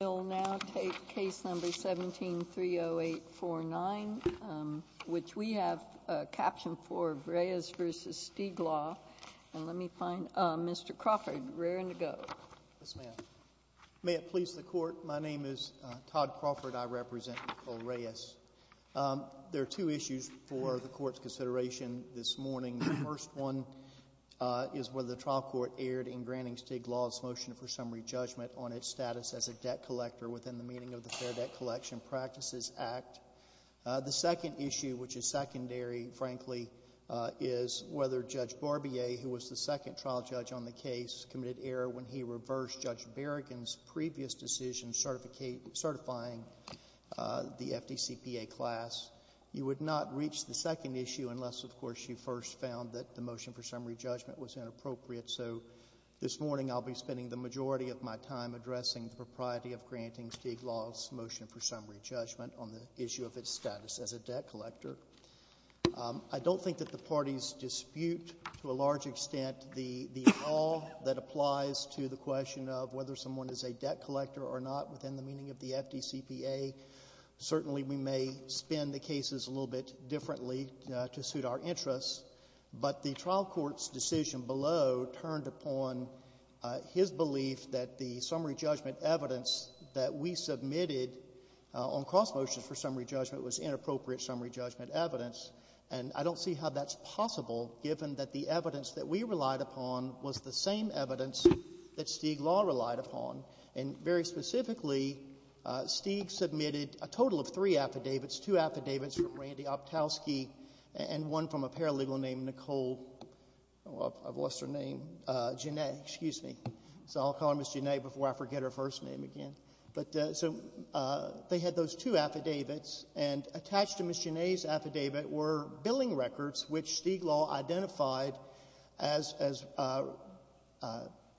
I'll now take case number 17-30849, which we have a caption for Reyes v. Stiglaw. And let me find Mr. Crawford, we're in the go. Yes, ma'am. May it please the court, my name is Todd Crawford, I represent Nicole Reyes. There are two issues for the court's consideration this morning. The first one is whether the trial court erred in Granning-Stiglaw's motion for summary judgment on its status as a debt collector within the meaning of the Fair Debt Collection Practices Act. The second issue, which is secondary, frankly, is whether Judge Barbier, who was the second trial judge on the case, committed error when he reversed Judge Berrigan's previous decision certifying the FDCPA class. You would not reach the second issue unless, of course, you first found that the motion for summary judgment was inappropriate. So this morning I'll be spending the majority of my time addressing the propriety of Granning-Stiglaw's motion for summary judgment on the issue of its status as a debt collector. I don't think that the parties dispute to a large extent the at all that applies to the question of whether someone is a debt collector or not within the meaning of the FDCPA. Certainly, we may spin the cases a little bit differently to suit our interests, but the trial court's decision below turned upon his belief that the summary judgment evidence that we submitted on cross motions for summary judgment was inappropriate summary judgment evidence, and I don't see how that's possible given that the evidence that we relied upon was the same evidence that Stiglaw relied upon. And very specifically, Stig submitted a total of three affidavits, two affidavits from Randy Optowski and one from a paralegal named Nicole, I've lost her name, Janay, excuse me. So I'll call her Ms. Janay before I forget her first name again. But so they had those two affidavits, and attached to Ms. Janay's affidavit were billing records, which Stiglaw identified as the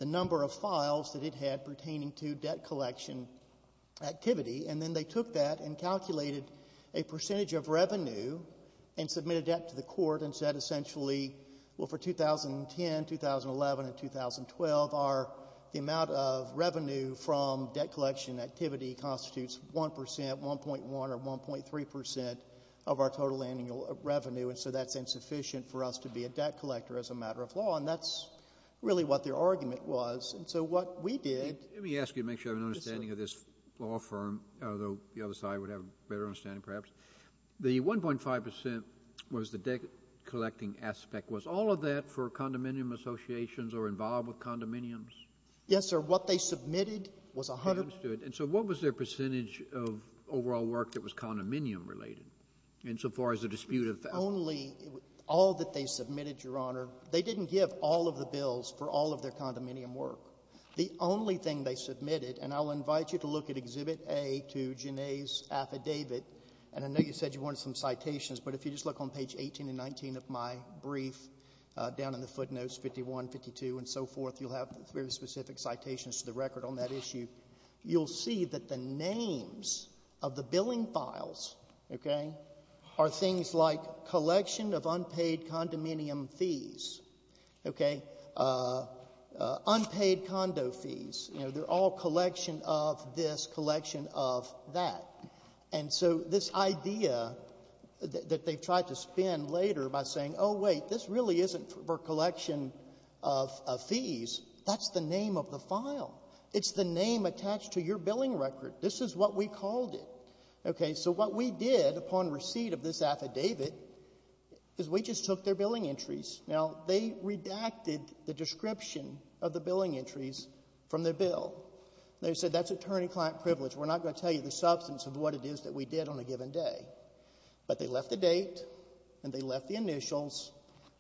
number of files that it had pertaining to debt collection activity. And then they took that and calculated a percentage of revenue and submitted that to the court and said essentially, well, for 2010, 2011, and 2012, the amount of revenue from debt collection activity constitutes 1%, 1.1, or 1.3% of our total annual revenue, and so that's insufficient for us to be a debt collector as a matter of law. And that's really what their argument was. And so what we did Let me ask you to make sure I have an understanding of this law firm, although the other side would have a better understanding perhaps. The 1.5% was the debt collecting aspect. Was all of that for condominium associations or involved with condominiums? Yes, sir. What they submitted was a hundred And I understood. And so what was their percentage of overall work that was condominium-related insofar as the dispute of that? Only all that they submitted, Your Honor, they didn't give all of the bills for all of their condominium work. The only thing they submitted, and I'll invite you to look at Exhibit A to Janae's affidavit, and I know you said you wanted some citations, but if you just look on page 18 and 19 of my brief down in the footnotes, 51, 52, and so forth, you'll have very specific citations to the record on that issue. You'll see that the names of the billing files, okay, are things like collection of unpaid condominium fees, okay, unpaid condo fees, you know, they're all collection of this, collection of that. And so this idea that they've tried to spin later by saying, oh, wait, this really isn't for collection of fees, that's the name of the file. It's the name attached to your billing record. This is what we called it. Okay, so what we did upon receipt of this affidavit is we just took their billing entries. Now, they redacted the description of the billing entries from their bill. They said that's attorney-client privilege. We're not going to tell you the substance of what it is that we did on a given day. But they left the date, and they left the initials,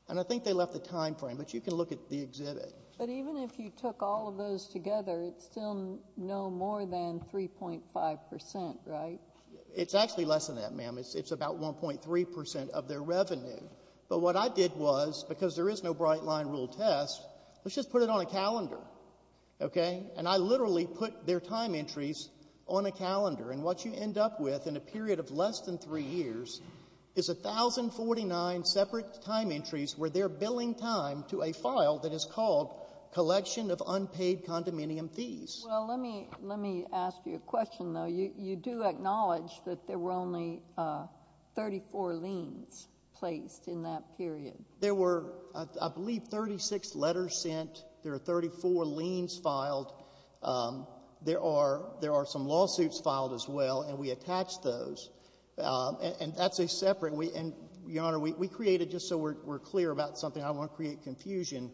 and I think they left the time frame. But you can look at the exhibit. But even if you took all of those together, it's still no more than 3.5 percent, right? It's actually less than that, ma'am. It's about 1.3 percent of their revenue. But what I did was, because there is no bright-line rule test, let's just put it on a calendar, okay? And I literally put their time entries on a calendar. And what you end up with in a period of less than three years is 1,049 separate time entries where they're billing time to a file that is called collection of unpaid condominium fees. Well, let me ask you a question, though. You do acknowledge that there were only 34 liens placed in that period. There were, I believe, 36 letters sent. There are 34 liens filed. There are some lawsuits filed as well, and we attached those. And that's a separate. And, Your Honor, we created, just so we're clear about something, I don't want to create confusion,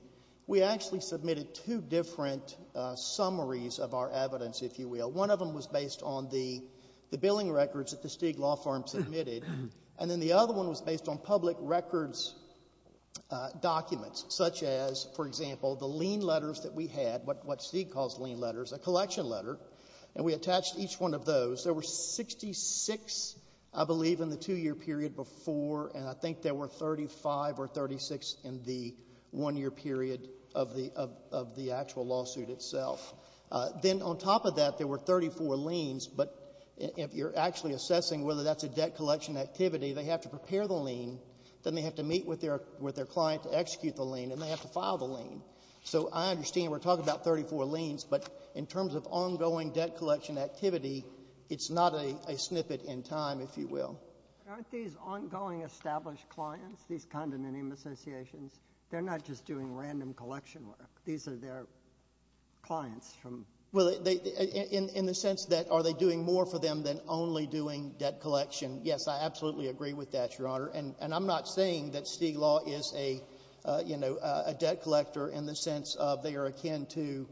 we actually submitted two different summaries of our evidence, if you will. One of them was based on the billing records that the Stig Law Firm submitted, and then the other one was based on public records documents, such as, for example, the lien letters that we had, what Stig calls lien letters, a collection letter, and we attached each one of those. There were 66, I believe, in the two-year period before, and I think there were 35 or 36 in the one-year period of the actual lawsuit itself. Then on top of that, there were 34 liens, but if you're actually assessing whether that's a debt collection activity, they have to prepare the lien, then they have to meet with their client to execute the lien, and they have to file the lien. So I understand we're talking about 34 liens, but in terms of ongoing debt collection activity, it's not a snippet in time, if you will. But aren't these ongoing established clients, these condominium associations, they're not just doing random collection work. These are their clients. Well, in the sense that are they doing more for them than only doing debt collection, yes, I absolutely agree with that, Your Honor, and I'm not saying that Stig Law is a debt collector in the sense of they are akin to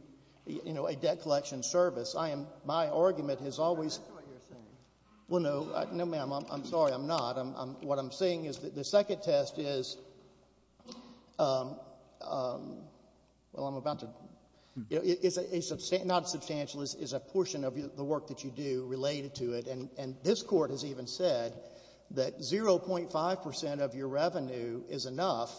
a debt collection service. My argument has always— That's not what you're saying. Well, no, ma'am. I'm sorry, I'm not. What I'm saying is that the second test is—well, I'm about to—it's not substantial. It's a portion of the work that you do related to it, and this Court has even said that 0.5 percent of your revenue is enough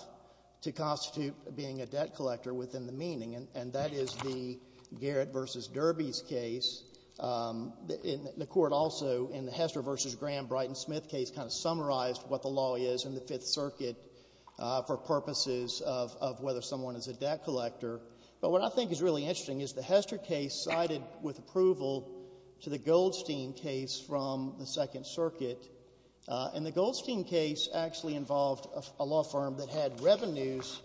to constitute being a debt collector within the meaning, and that is the Garrett v. Derby's case. The Court also, in the Hester v. Graham-Brighton-Smith case, kind of summarized what the law is in the Fifth Circuit for purposes of whether someone is a debt collector. But what I think is really interesting is the Hester case sided with approval to the Goldstein case from the Second Circuit, and the Goldstein case actually involved a law firm that had revenues,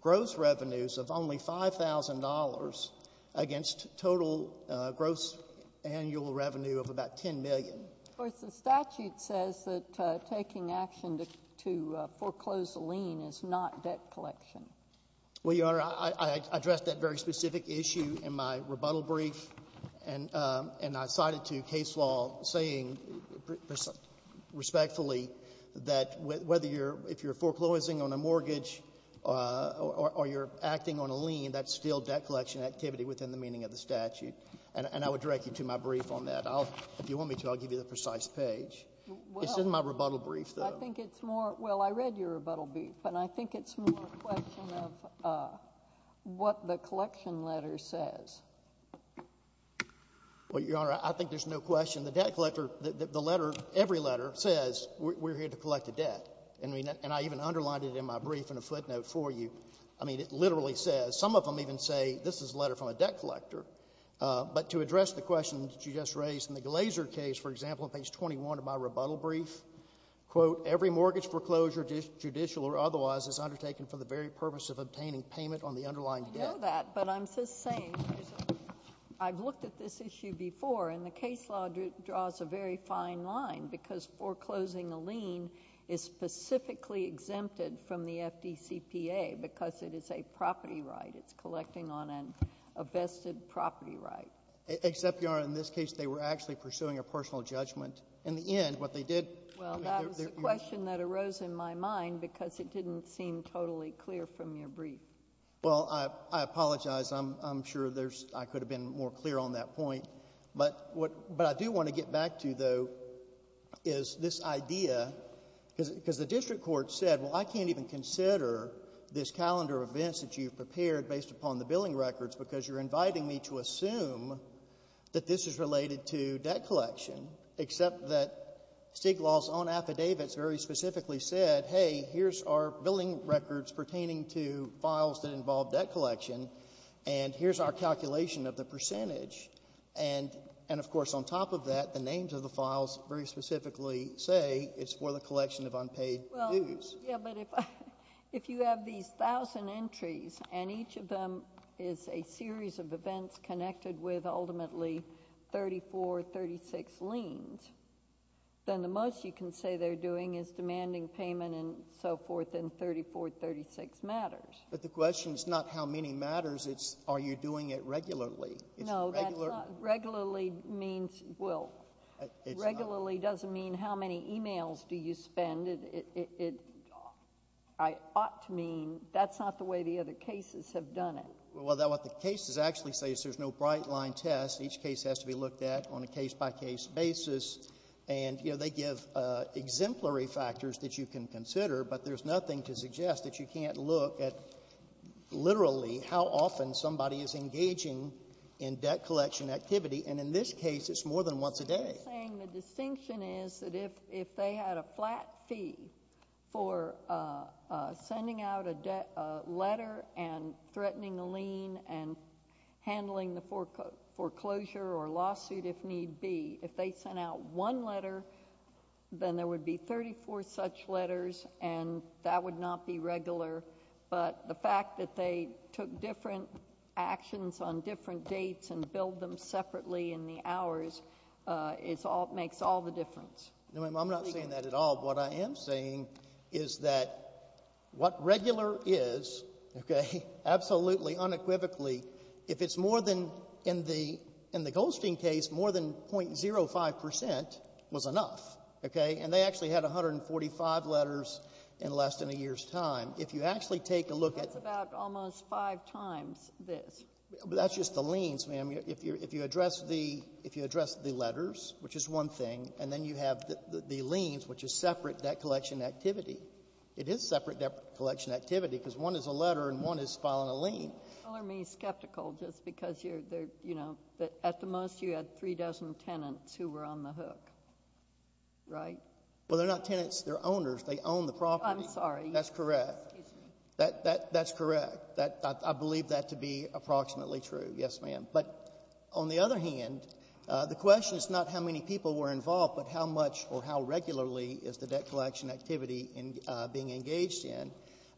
gross revenues of only $5,000 against total gross annual revenue of about $10 million. Of course, the statute says that taking action to foreclose a lien is not debt collection. Well, Your Honor, I addressed that very specific issue in my rebuttal brief, and I cited to case law saying respectfully that whether you're — if you're foreclosing on a mortgage or you're acting on a lien, that's still debt collection activity within the meaning of the statute. And I would direct you to my brief on that. If you want me to, I'll give you the precise page. It's in my rebuttal brief, though. I think it's more — well, I read your rebuttal brief, and I think it's more a question of what the collection letter says. Well, Your Honor, I think there's no question the debt collector — the letter, every letter says we're here to collect the debt. And I even underlined it in my brief in a footnote for you. I mean, it literally says — some of them even say this is a letter from a debt collector. But to address the question that you just raised in the Glaser case, for example, on page 21 of my rebuttal brief, quote, every mortgage foreclosure, judicial or otherwise, is undertaken for the very purpose of obtaining payment on the underlying debt. I know that, but I'm just saying I've looked at this issue before, and the case law draws a very fine line because foreclosing a lien is specifically exempted from the FDCPA because it is a property right. It's collecting on a vested property right. Except, Your Honor, in this case they were actually pursuing a personal judgment. In the end, what they did — Well, that was a question that arose in my mind because it didn't seem totally clear from your brief. Well, I apologize. I'm sure I could have been more clear on that point. But what I do want to get back to, though, is this idea, because the district court said, well, I can't even consider this calendar of events that you've prepared based upon the billing records because you're inviting me to assume that this is related to debt collection, except that Stiglal's own affidavits very specifically said, hey, here's our billing records pertaining to files that involve debt collection, and here's our calculation of the percentage. And, of course, on top of that, the names of the files very specifically say it's for the collection of unpaid dues. Yes, but if you have these 1,000 entries and each of them is a series of events connected with ultimately 34, 36 liens, then the most you can say they're doing is demanding payment and so forth in 34, 36 matters. But the question is not how many matters. It's are you doing it regularly. No, that's not — Regularly means — well, regularly doesn't mean how many e-mails do you spend. It ought to mean that's not the way the other cases have done it. Well, what the cases actually say is there's no bright-line test. Each case has to be looked at on a case-by-case basis. And, you know, they give exemplary factors that you can consider, but there's nothing to suggest that you can't look at literally how often somebody is engaging in debt collection activity. And in this case, it's more than once a day. I'm just saying the distinction is that if they had a flat fee for sending out a letter and threatening a lien and handling the foreclosure or lawsuit if need be, if they sent out one letter, then there would be 34 such letters, and that would not be regular. But the fact that they took different actions on different dates and billed them separately in the hours makes all the difference. No, ma'am, I'm not saying that at all. What I am saying is that what regular is, okay, absolutely unequivocally, if it's more than — in the Goldstein case, more than .05 percent was enough, okay? And they actually had 145 letters in less than a year's time. If you actually take a look at — That's about almost five times this. But that's just the liens, ma'am. If you address the letters, which is one thing, and then you have the liens, which is separate debt collection activity. It is separate debt collection activity because one is a letter and one is filing a lien. You're telling me you're skeptical just because you're, you know, that at the most you had three dozen tenants who were on the hook, right? Well, they're not tenants. They're owners. They own the property. I'm sorry. That's correct. That's correct. I believe that to be approximately true. Yes, ma'am. But on the other hand, the question is not how many people were involved, but how much or how regularly is the debt collection activity being engaged in.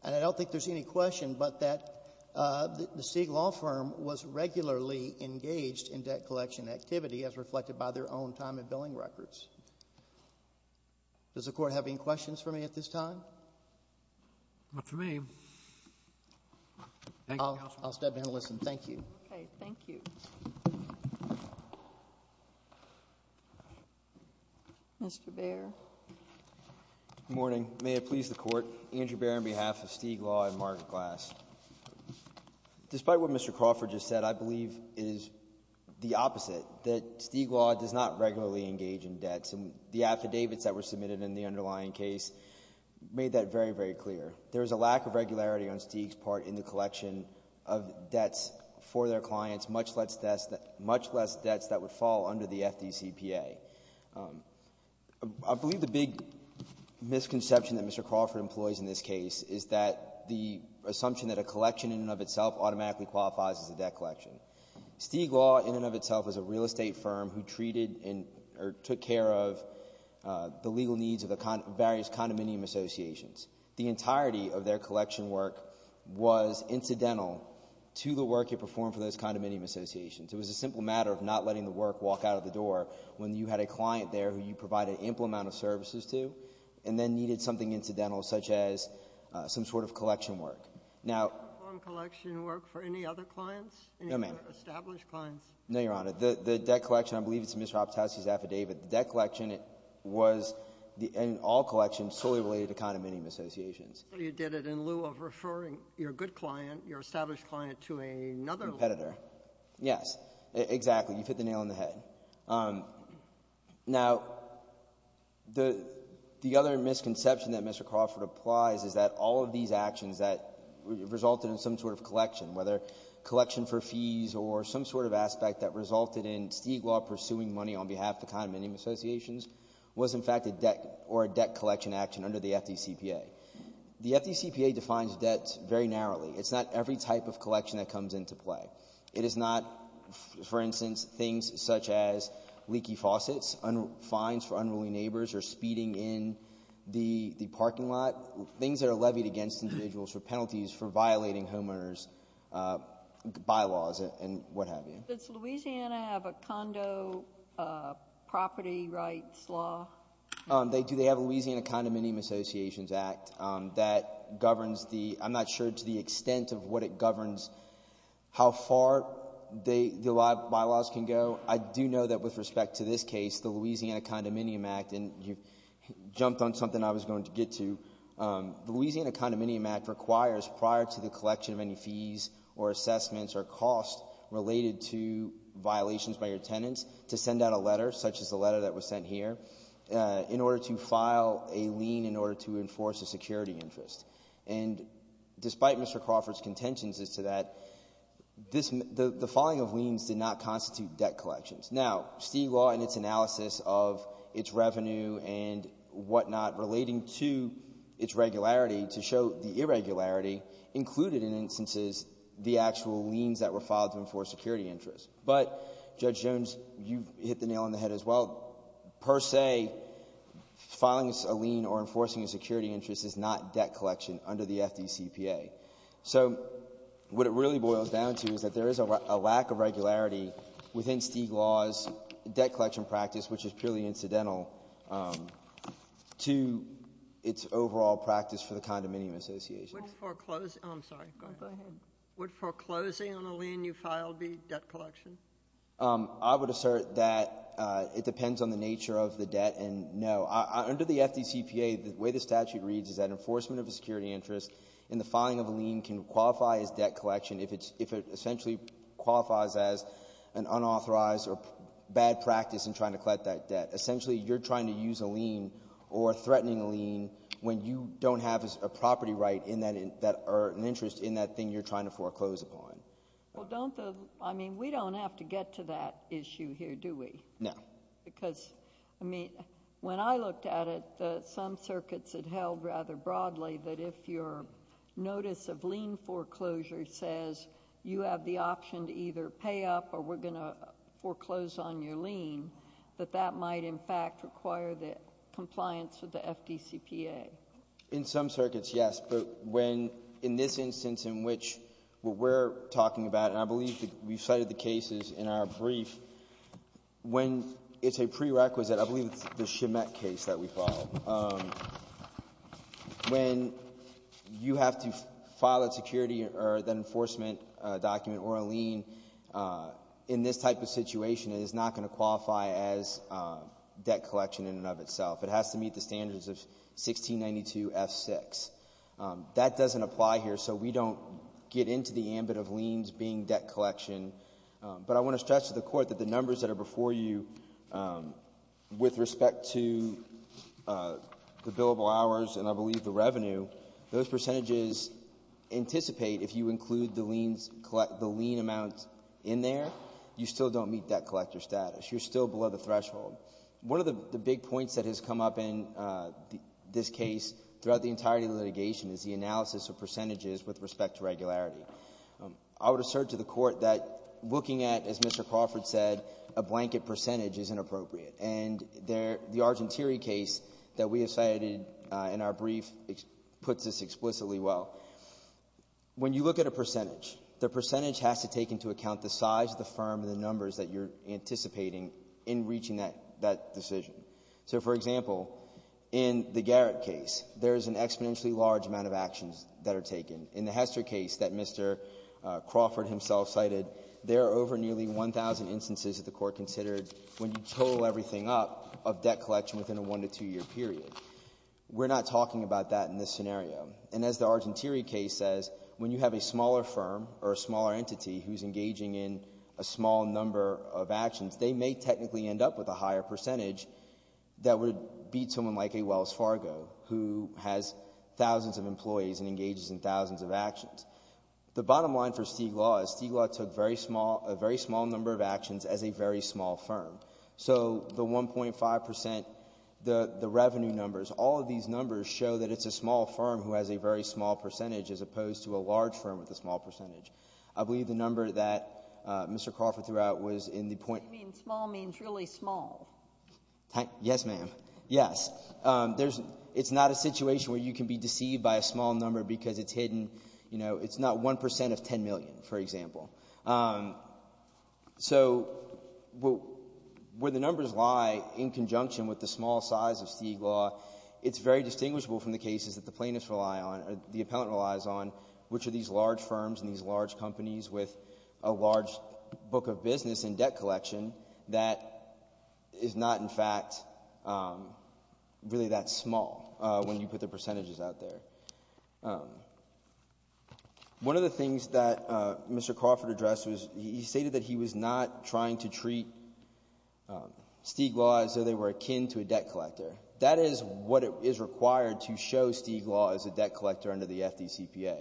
And I don't think there's any question but that the Sieg law firm was regularly engaged in debt collection activity as reflected by their own time and billing records. Does the Court have any questions for me at this time? Not for me. Thank you, counsel. I'll step in and listen. Thank you. Okay. Thank you. Mr. Baer. Good morning. May it please the Court. Andrew Baer on behalf of Sieg law and Margaret Glass. Despite what Mr. Crawford just said, I believe it is the opposite, that Sieg law does not regularly engage in debts. The affidavits that were submitted in the underlying case made that very, very clear. There is a lack of regularity on Sieg's part in the collection of debts for their clients, much less debts that would fall under the FDCPA. I believe the big misconception that Mr. Crawford employs in this case is that the assumption that a collection in and of itself automatically qualifies as a debt collection. Sieg law in and of itself is a real estate firm who treated or took care of the legal needs of the various condominium associations. The entirety of their collection work was incidental to the work it performed for those condominium associations. It was a simple matter of not letting the work walk out of the door when you had a client there who you provided ample amount of services to and then needed something incidental, such as some sort of collection work. Now — Did the firm collection work for any other clients? No, ma'am. Any other established clients? No, Your Honor. The debt collection, I believe it's in Mr. Apatowski's affidavit. The debt collection was in all collections solely related to condominium associations. So you did it in lieu of referring your good client, your established client, to another — Competitor. Yes. Exactly. You hit the nail on the head. Now, the other misconception that Mr. Crawford applies is that all of these actions that resulted in some sort of collection, whether collection for fees or some sort of aspect that resulted in Stiglaw pursuing money on behalf of condominium associations was, in fact, a debt — or a debt collection action under the FDCPA. The FDCPA defines debt very narrowly. It's not every type of collection that comes into play. It is not, for instance, things such as leaky faucets, fines for unruly neighbors or speeding in the parking lot, things that are levied against individuals for penalties for violating homeowners' bylaws and what have you. Does Louisiana have a condo property rights law? They do. They have a Louisiana Condominium Associations Act that governs the — I'm not sure to the extent of what it governs how far the bylaws can go. I do know that with respect to this case, the Louisiana Condominium Act, and you've jumped on something I was going to get to, the Louisiana Condominium Act requires prior to the collection of any fees or assessments or costs related to violations by your tenants to send out a letter, such as the letter that was sent here, in order to file a lien in order to enforce a security interest. And despite Mr. Crawford's contentions as to that, this — the filing of liens did not constitute debt collections. Now, Steele Law in its analysis of its revenue and whatnot relating to its regularity to show the irregularity included in instances the actual liens that were filed to enforce security interests. But, Judge Jones, you've hit the nail on the head as well. Per se, filing a lien or enforcing a security interest is not debt collection under the FDCPA. So what it really boils down to is that there is a lack of regularity within Steele Law's debt collection practice, which is purely incidental to its overall practice for the condominium associations. Would foreclosing — I'm sorry. Go ahead. Would foreclosing on a lien you filed be debt collection? I would assert that it depends on the nature of the debt, and no. Under the FDCPA, the way the statute reads is that enforcement of a security interest in the filing of a lien can qualify as debt collection if it's — if it essentially qualifies as an unauthorized or bad practice in trying to collect that debt. Essentially, you're trying to use a lien or threatening a lien when you don't have a property right in that — or an interest in that thing you're trying to foreclose upon. Well, don't the — I mean, we don't have to get to that issue here, do we? No. Because, I mean, when I looked at it, some circuits had held rather broadly that if your notice of lien foreclosure says you have the option to either pay up or we're going to foreclose on your lien, that that might, in fact, require the compliance with the FDCPA. In some circuits, yes, but when — in this instance in which what we're talking about, and I believe we've cited the cases in our brief, when it's a prerequisite — I believe it's the Schmidt case that we follow. When you have to file a security or an enforcement document or a lien in this type of situation, it is not going to qualify as debt collection in and of itself. It has to meet the standards of 1692F6. That doesn't apply here, so we don't get into the ambit of liens being debt collection. But I want to stress to the Court that the numbers that are before you with respect to the billable hours and, I believe, the revenue, those percentages anticipate if you include the lien amount in there, you still don't meet debt collector status. You're still below the threshold. One of the big points that has come up in this case throughout the entirety of the litigation is the analysis of percentages with respect to regularity. I would assert to the Court that looking at, as Mr. Crawford said, a blanket percentage is inappropriate. And the Argentieri case that we have cited in our brief puts this explicitly well. When you look at a percentage, the percentage has to take into account the size of the firm and the numbers that you're anticipating in reaching that decision. So, for example, in the Garrett case, there is an exponentially large amount of actions that are taken. In the Hester case that Mr. Crawford himself cited, there are over nearly 1,000 instances that the Court considered when you total everything up of debt collection within a one-to-two-year period. We're not talking about that in this scenario. And as the Argentieri case says, when you have a smaller firm or a smaller entity who's engaging in a small number of actions, they may technically end up with a higher percentage that would beat someone like a Wells Fargo who has thousands of employees and engages in thousands of actions. The bottom line for Stiglau is Stiglau took a very small number of actions as a very small firm. So the 1.5 percent, the revenue numbers, all of these numbers show that it's a small firm who has a very small percentage as opposed to a large firm with a small percentage. I believe the number that Mr. Crawford threw out was in the point — Sotomayor, you mean small means really small. Yes, ma'am. Yes. It's not a situation where you can be deceived by a small number because it's hidden — you know, it's not 1 percent of 10 million, for example. So where the numbers lie in conjunction with the small size of Stiglau, it's very distinguishable from the cases that the plaintiffs rely on or the appellant relies on, which are these large firms and these large companies with a large book of business and debt collection that is not, in fact, really that small when you put the percentages out there. One of the things that Mr. Crawford addressed was he stated that he was not trying to treat Stiglau as though they were akin to a debt collector. That is what is required to show Stiglau as a debt collector under the FDCPA.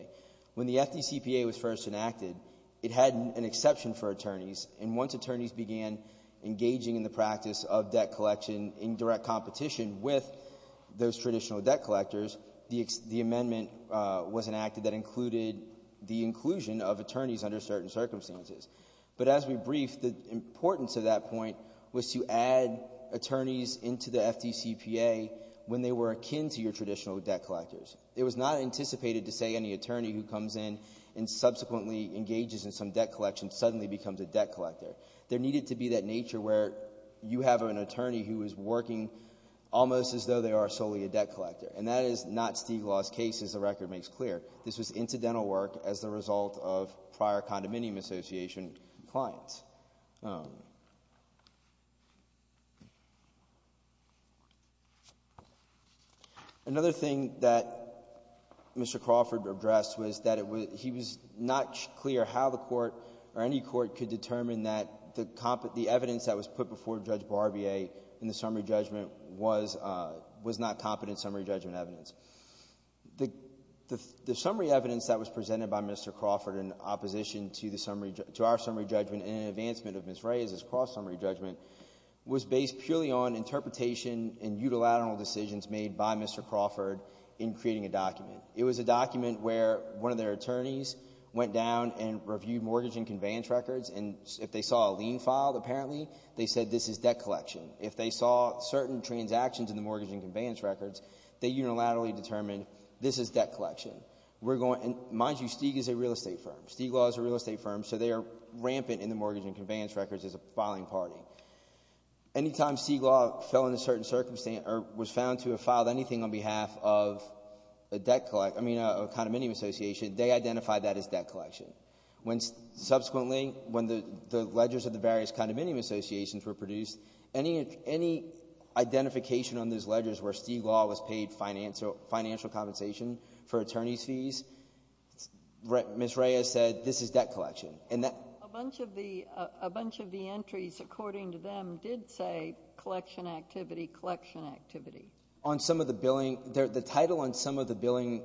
When the FDCPA was first enacted, it had an exception for attorneys, and once attorneys began engaging in the practice of debt collection in direct competition with those traditional debt collectors, the amendment was enacted that included the inclusion of attorneys under certain circumstances. But as we brief, the importance of that point was to add attorneys into the FDCPA when they were akin to your traditional debt collectors. It was not anticipated to say any attorney who comes in and subsequently engages in some debt collection suddenly becomes a debt collector. There needed to be that nature where you have an attorney who is working almost as though they are solely a debt collector. And that is not Stiglau's case, as the record makes clear. This was incidental work as a result of prior condominium association clients. Another thing that Mr. Crawford addressed was that he was not clear how the court or any court could determine that the evidence that was put before Judge Barbier in the summary judgment was not competent summary judgment evidence. The summary evidence that was presented by Mr. Crawford in opposition to our summary judgment and an advancement of Ms. Ray's cross-summary judgment was based purely on interpretation and unilateral decisions made by Mr. Crawford in creating a document. It was a document where one of their attorneys went down and reviewed mortgage and conveyance records, and if they saw a lien filed, apparently, they said this is debt collection. If they saw certain transactions in the mortgage and conveyance records, they unilaterally determined this is debt collection. Mind you, Stig is a real estate firm. Stiglau is a real estate firm, so they are rampant in the mortgage and conveyance records as a filing party. Any time Stiglau fell into a certain circumstance or was found to have filed anything on behalf of a debt collector, I mean a condominium association, they identified that as debt collection. Subsequently, when the ledgers of the various condominium associations were reviewed, I mean, any identification on those ledgers where Stiglau was paid financial compensation for attorney's fees, Ms. Ray has said this is debt collection. And that ---- A bunch of the entries, according to them, did say collection activity, collection activity. On some of the billing, the title on some of the billing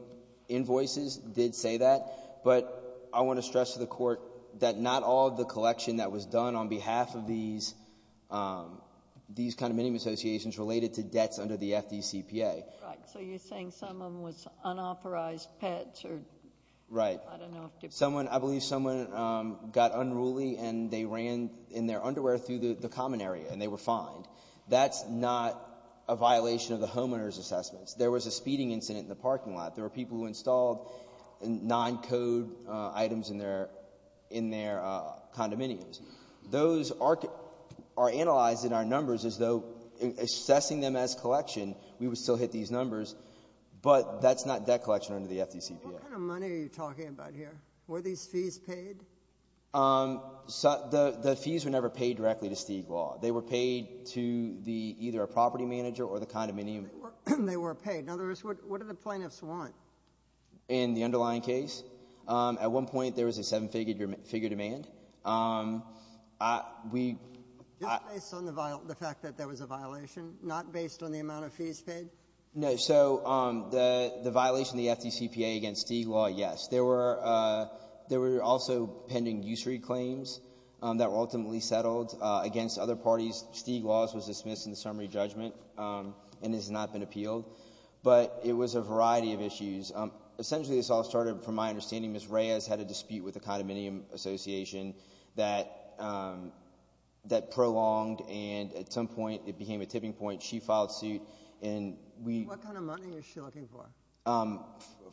invoices did say that, but I want to stress to the Court that not all of the collection that was done on these condominium associations related to debts under the FDCPA. Right. So you're saying some of them was unauthorized pets or ---- Right. I don't know if ---- Someone, I believe someone got unruly and they ran in their underwear through the common area and they were fined. That's not a violation of the homeowner's assessments. There was a speeding incident in the parking lot. There were people who installed non-code items in their, in their condominiums. Those are analyzed in our numbers as though assessing them as collection, we would still hit these numbers, but that's not debt collection under the FDCPA. What kind of money are you talking about here? Were these fees paid? The fees were never paid directly to Stiglau. They were paid to the, either a property manager or the condominium. They were paid. In other words, what did the plaintiffs want? In the underlying case, at one point there was a seven-figure demand. We ---- Just based on the fact that there was a violation, not based on the amount of fees paid? No. So the violation of the FDCPA against Stiglau, yes. There were also pending usury claims that were ultimately settled against other parties. Stiglau's was dismissed in the summary judgment and has not been appealed. But it was a variety of issues. Essentially, this all started, from my understanding, Ms. Reyes had a dispute with the condominium association that prolonged and at some point it became a tipping point. She filed suit and we ---- What kind of money is she looking for?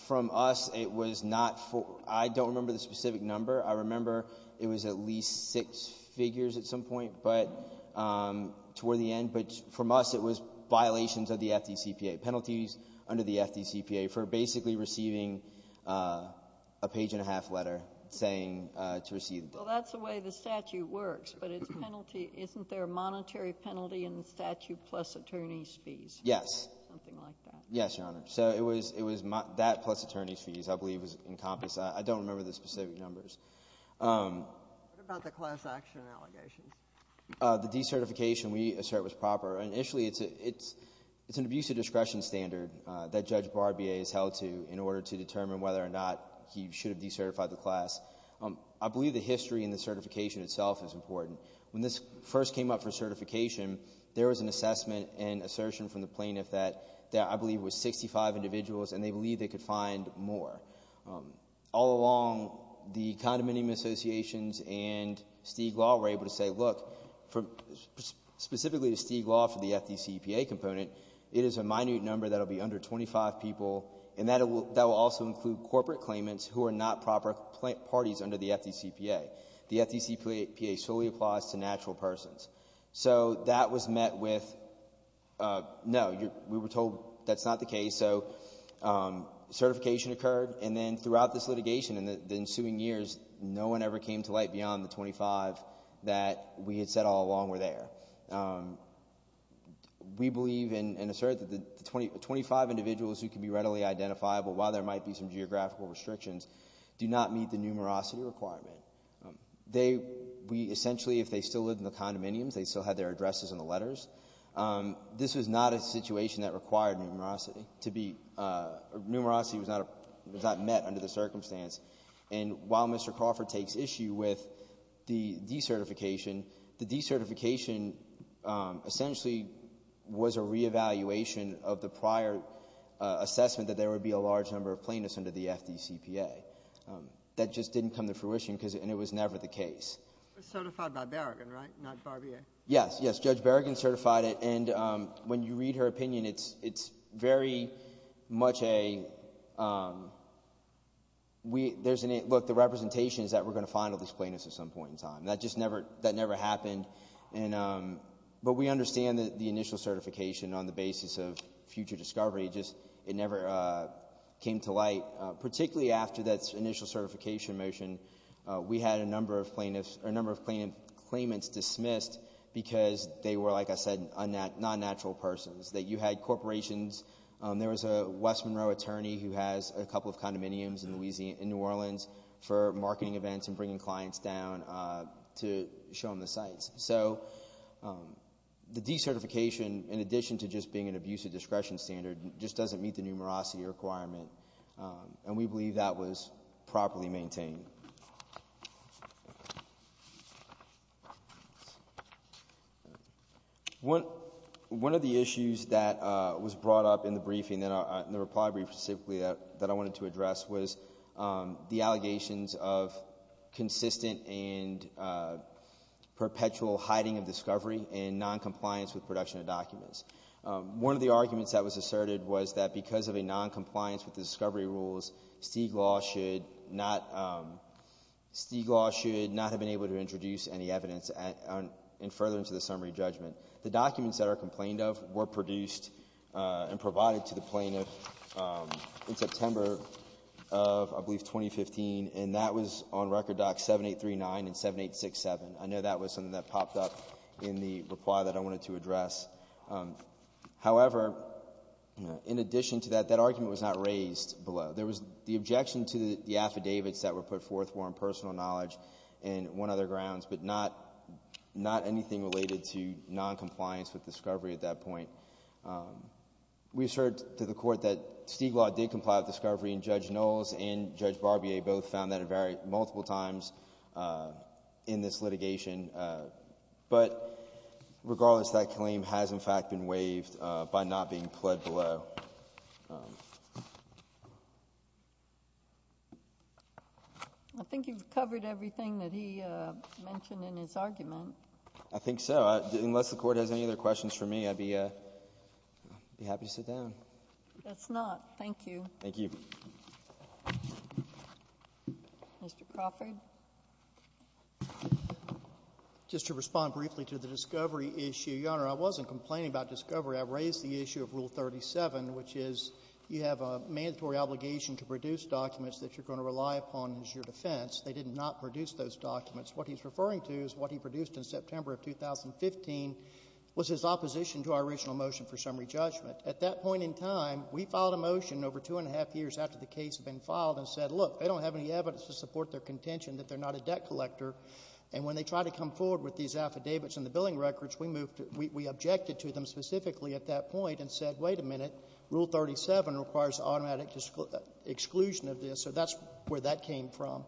From us, it was not for ---- I don't remember the specific number. I remember it was at least six figures at some point, but toward the end. But from us, it was violations of the FDCPA, penalties under the FDCPA for basically receiving a page-and-a-half letter saying to receive ---- Well, that's the way the statute works. But its penalty, isn't there a monetary penalty in the statute plus attorney's fees? Yes. Something like that. Yes, Your Honor. So it was that plus attorney's fees, I believe, was encompassed. I don't remember the specific numbers. What about the class action allegations? The decertification, we assert, was proper. Initially, it's an abuse of discretion standard that Judge Barbier is held to in order to determine whether or not he should have decertified the class. I believe the history and the certification itself is important. When this first came up for certification, there was an assessment and assertion from the plaintiff that I believe was 65 individuals and they believed they could find more. All along, the condominium associations and Stieg Law were able to say, look, specifically the Stieg Law for the FDCPA component, it is a minute number that will be under 25 people and that will also include corporate claimants who are not proper parties under the FDCPA. The FDCPA solely applies to natural persons. So that was met with, no, we were told that's not the case. So certification occurred. And then throughout this litigation and the ensuing years, no one ever came to light beyond the 25 that we had said all along were there. We believe and assert that the 25 individuals who can be readily identifiable while there might be some geographical restrictions do not meet the numerosity requirement. They, we essentially, if they still lived in the condominiums, they still had their addresses in the letters. This was not a situation that required numerosity to be, numerosity was not met under the circumstance. And while Mr. Crawford takes issue with the decertification, the decertification essentially was a reevaluation of the prior assessment that there would be a large number of plaintiffs under the FDCPA. That just didn't come to fruition and it was never the case. It was certified by Berrigan, right, not Barbier? Yes, yes, Judge Berrigan certified it. And when you read her opinion, it's very much a, look, the representation is that we're going to find all these plaintiffs at some point in time. That just never, that never happened. But we understand that the initial certification on the basis of future discovery just, it never came to light, particularly after that initial certification motion. We had a number of plaintiffs, a number of claimants dismissed because they were, like I said, non-natural persons. You had corporations, there was a West Monroe attorney who has a couple of condominiums in New Orleans for marketing events and bringing clients down to show them the sites. So the decertification, in addition to just being an abusive discretion standard, just doesn't meet the numerosity requirement. And we believe that was properly maintained. One of the issues that was brought up in the briefing, in the reply brief specifically, that I wanted to address was the allegations of consistent and perpetual hiding of discovery and noncompliance with production of documents. One of the arguments that was asserted was that because of a noncompliance with the discovery rules, Stiglaw should not have been able to introduce any evidence in furtherance of the summary judgment. The documents that are complained of were produced and provided to the plaintiff in September of, I believe, 2015, and that was on Record Docs 7839 and 7867. I know that was something that popped up in the reply that I wanted to address. However, in addition to that, that argument was not raised below. There was the objection to the affidavits that were put forth for impersonal knowledge and one other grounds, but not anything related to noncompliance with discovery at that point. We assert to the Court that Stiglaw did comply with discovery, and Judge Knowles and Judge Barbier both found that it varied multiple times in this litigation. But regardless, that claim has, in fact, been waived by not being pled below. I think you've covered everything that he mentioned in his argument. I think so. Unless the Court has any other questions for me, I'd be happy to sit down. Let's not. Thank you. Thank you. Mr. Crawford. Just to respond briefly to the discovery issue, Your Honor, I wasn't complaining about discovery. I raised the issue of Rule 37, which is you have a mandatory obligation to produce documents that you're going to rely upon as your defense. They did not produce those documents. What he's referring to is what he produced in September of 2015 was his opposition to our original motion for summary judgment. At that point in time, we filed a motion over two and a half years after the case had been filed and said, look, they don't have any evidence to support their contention that they're not a debt collector. And when they tried to come forward with these affidavits and the billing records, we moved to — we objected to them specifically at that point and said, wait a minute, Rule 37 requires automatic exclusion of this. So that's where that came from.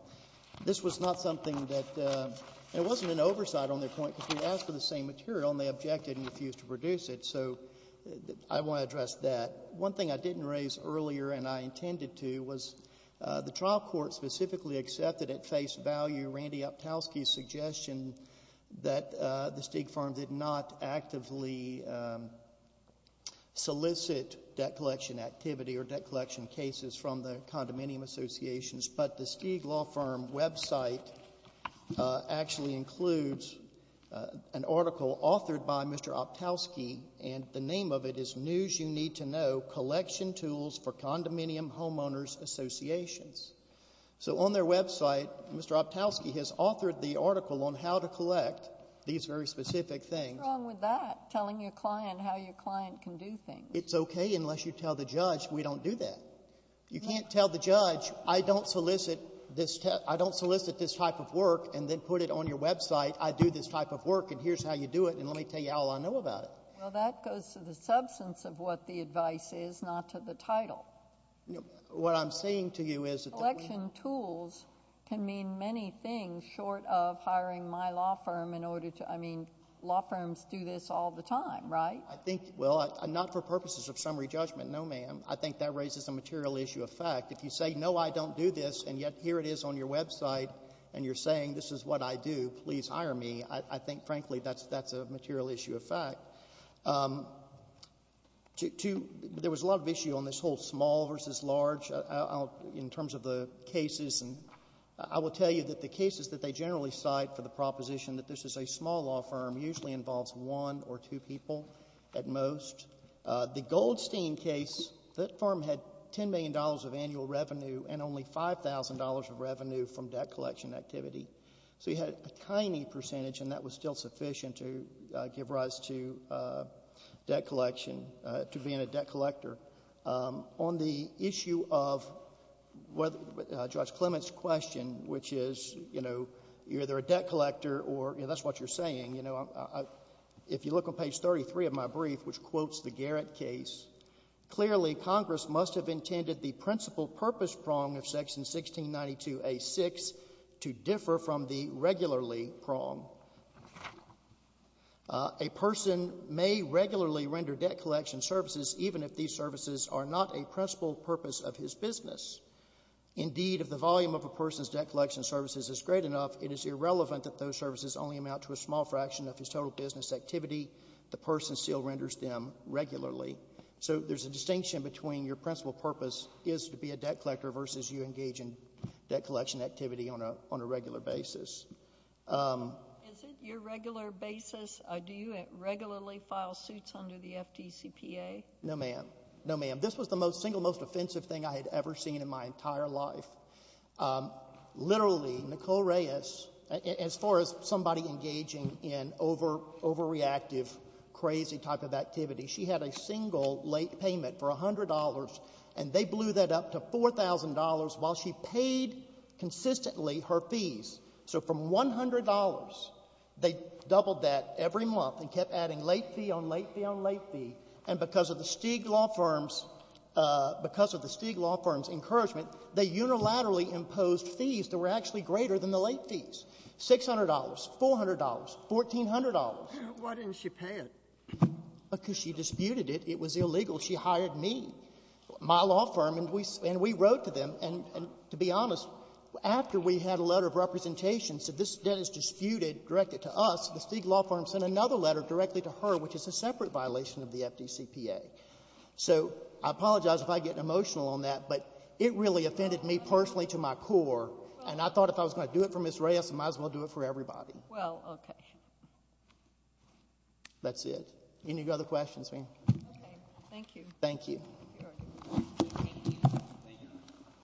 This was not something that — and it wasn't an oversight on their point because we asked for the same material, and they objected and refused to produce it. So I want to address that. One thing I didn't raise earlier and I intended to was the trial court specifically accepted at face value Randy Optowski's suggestion that the Stieg firm did not actively solicit debt collection activity or debt collection cases from the condominium associations, but the Stieg law firm website actually includes an article authored by Mr. Optowski, and the name of it is News You Need to Know, Collection Tools for Condominium Homeowners Associations. So on their website, Mr. Optowski has authored the article on how to collect these very specific things. What's wrong with that, telling your client how your client can do things? It's okay unless you tell the judge we don't do that. You can't tell the judge I don't solicit this type of work and then put it on your website. Well, that goes to the substance of what the advice is, not to the title. What I'm saying to you is that we have to do it. Collection tools can mean many things short of hiring my law firm in order to — I mean, law firms do this all the time, right? I think — well, not for purposes of summary judgment, no, ma'am. I think that raises a material issue of fact. If you say, no, I don't do this, and yet here it is on your website, and you're saying this is what I do, please hire me, I think, frankly, that's a material issue of fact. There was a lot of issue on this whole small versus large in terms of the cases, and I will tell you that the cases that they generally cite for the proposition that this is a small law firm usually involves one or two people at most. The Goldstein case, that firm had $10 million of annual revenue and only $5,000 of revenue from debt collection activity. So you had a tiny percentage, and that was still sufficient to give rise to debt collection, to being a debt collector. On the issue of Judge Clement's question, which is, you know, you're either a debt collector or — you know, that's what you're saying. You know, if you look on page 33 of my brief, which quotes the Garrett case, clearly Congress must have intended the principal purpose prong of section 1692A6 to differ from the regularly prong. A person may regularly render debt collection services even if these services are not a principal purpose of his business. Indeed, if the volume of a person's debt collection services is great enough, it is irrelevant that those services only amount to a small fraction of his total business activity. The person still renders them regularly. So there's a distinction between your principal purpose is to be a debt collector versus you engage in debt collection activity on a regular basis. Is it your regular basis? Do you regularly file suits under the FDCPA? No, ma'am. No, ma'am. This was the single most offensive thing I had ever seen in my entire life. Literally, Nicole Reyes, as far as somebody engaging in overreactive, crazy type of activity, she had a single late payment for $100, and they blew that up to $4,000 while she paid consistently her fees. So from $100, they doubled that every month and kept adding late fee on late fee on late fee. And because of the Stig law firm's encouragement, they unilaterally imposed fees that were actually greater than the late fees, $600, $400, $1,400. Why didn't she pay it? Because she disputed it. It was illegal. She hired me, my law firm, and we wrote to them. And to be honest, after we had a letter of representation, said this debt is disputed, directed to us, the Stig law firm sent another letter directly to her, which is a separate violation of the FDCPA. So I apologize if I get emotional on that, but it really offended me personally to my core, and I thought if I was going to do it for Ms. Reyes, I might as well do it for everybody. Well, okay. That's it. Any other questions, ma'am? Okay. Thank you. Thank you.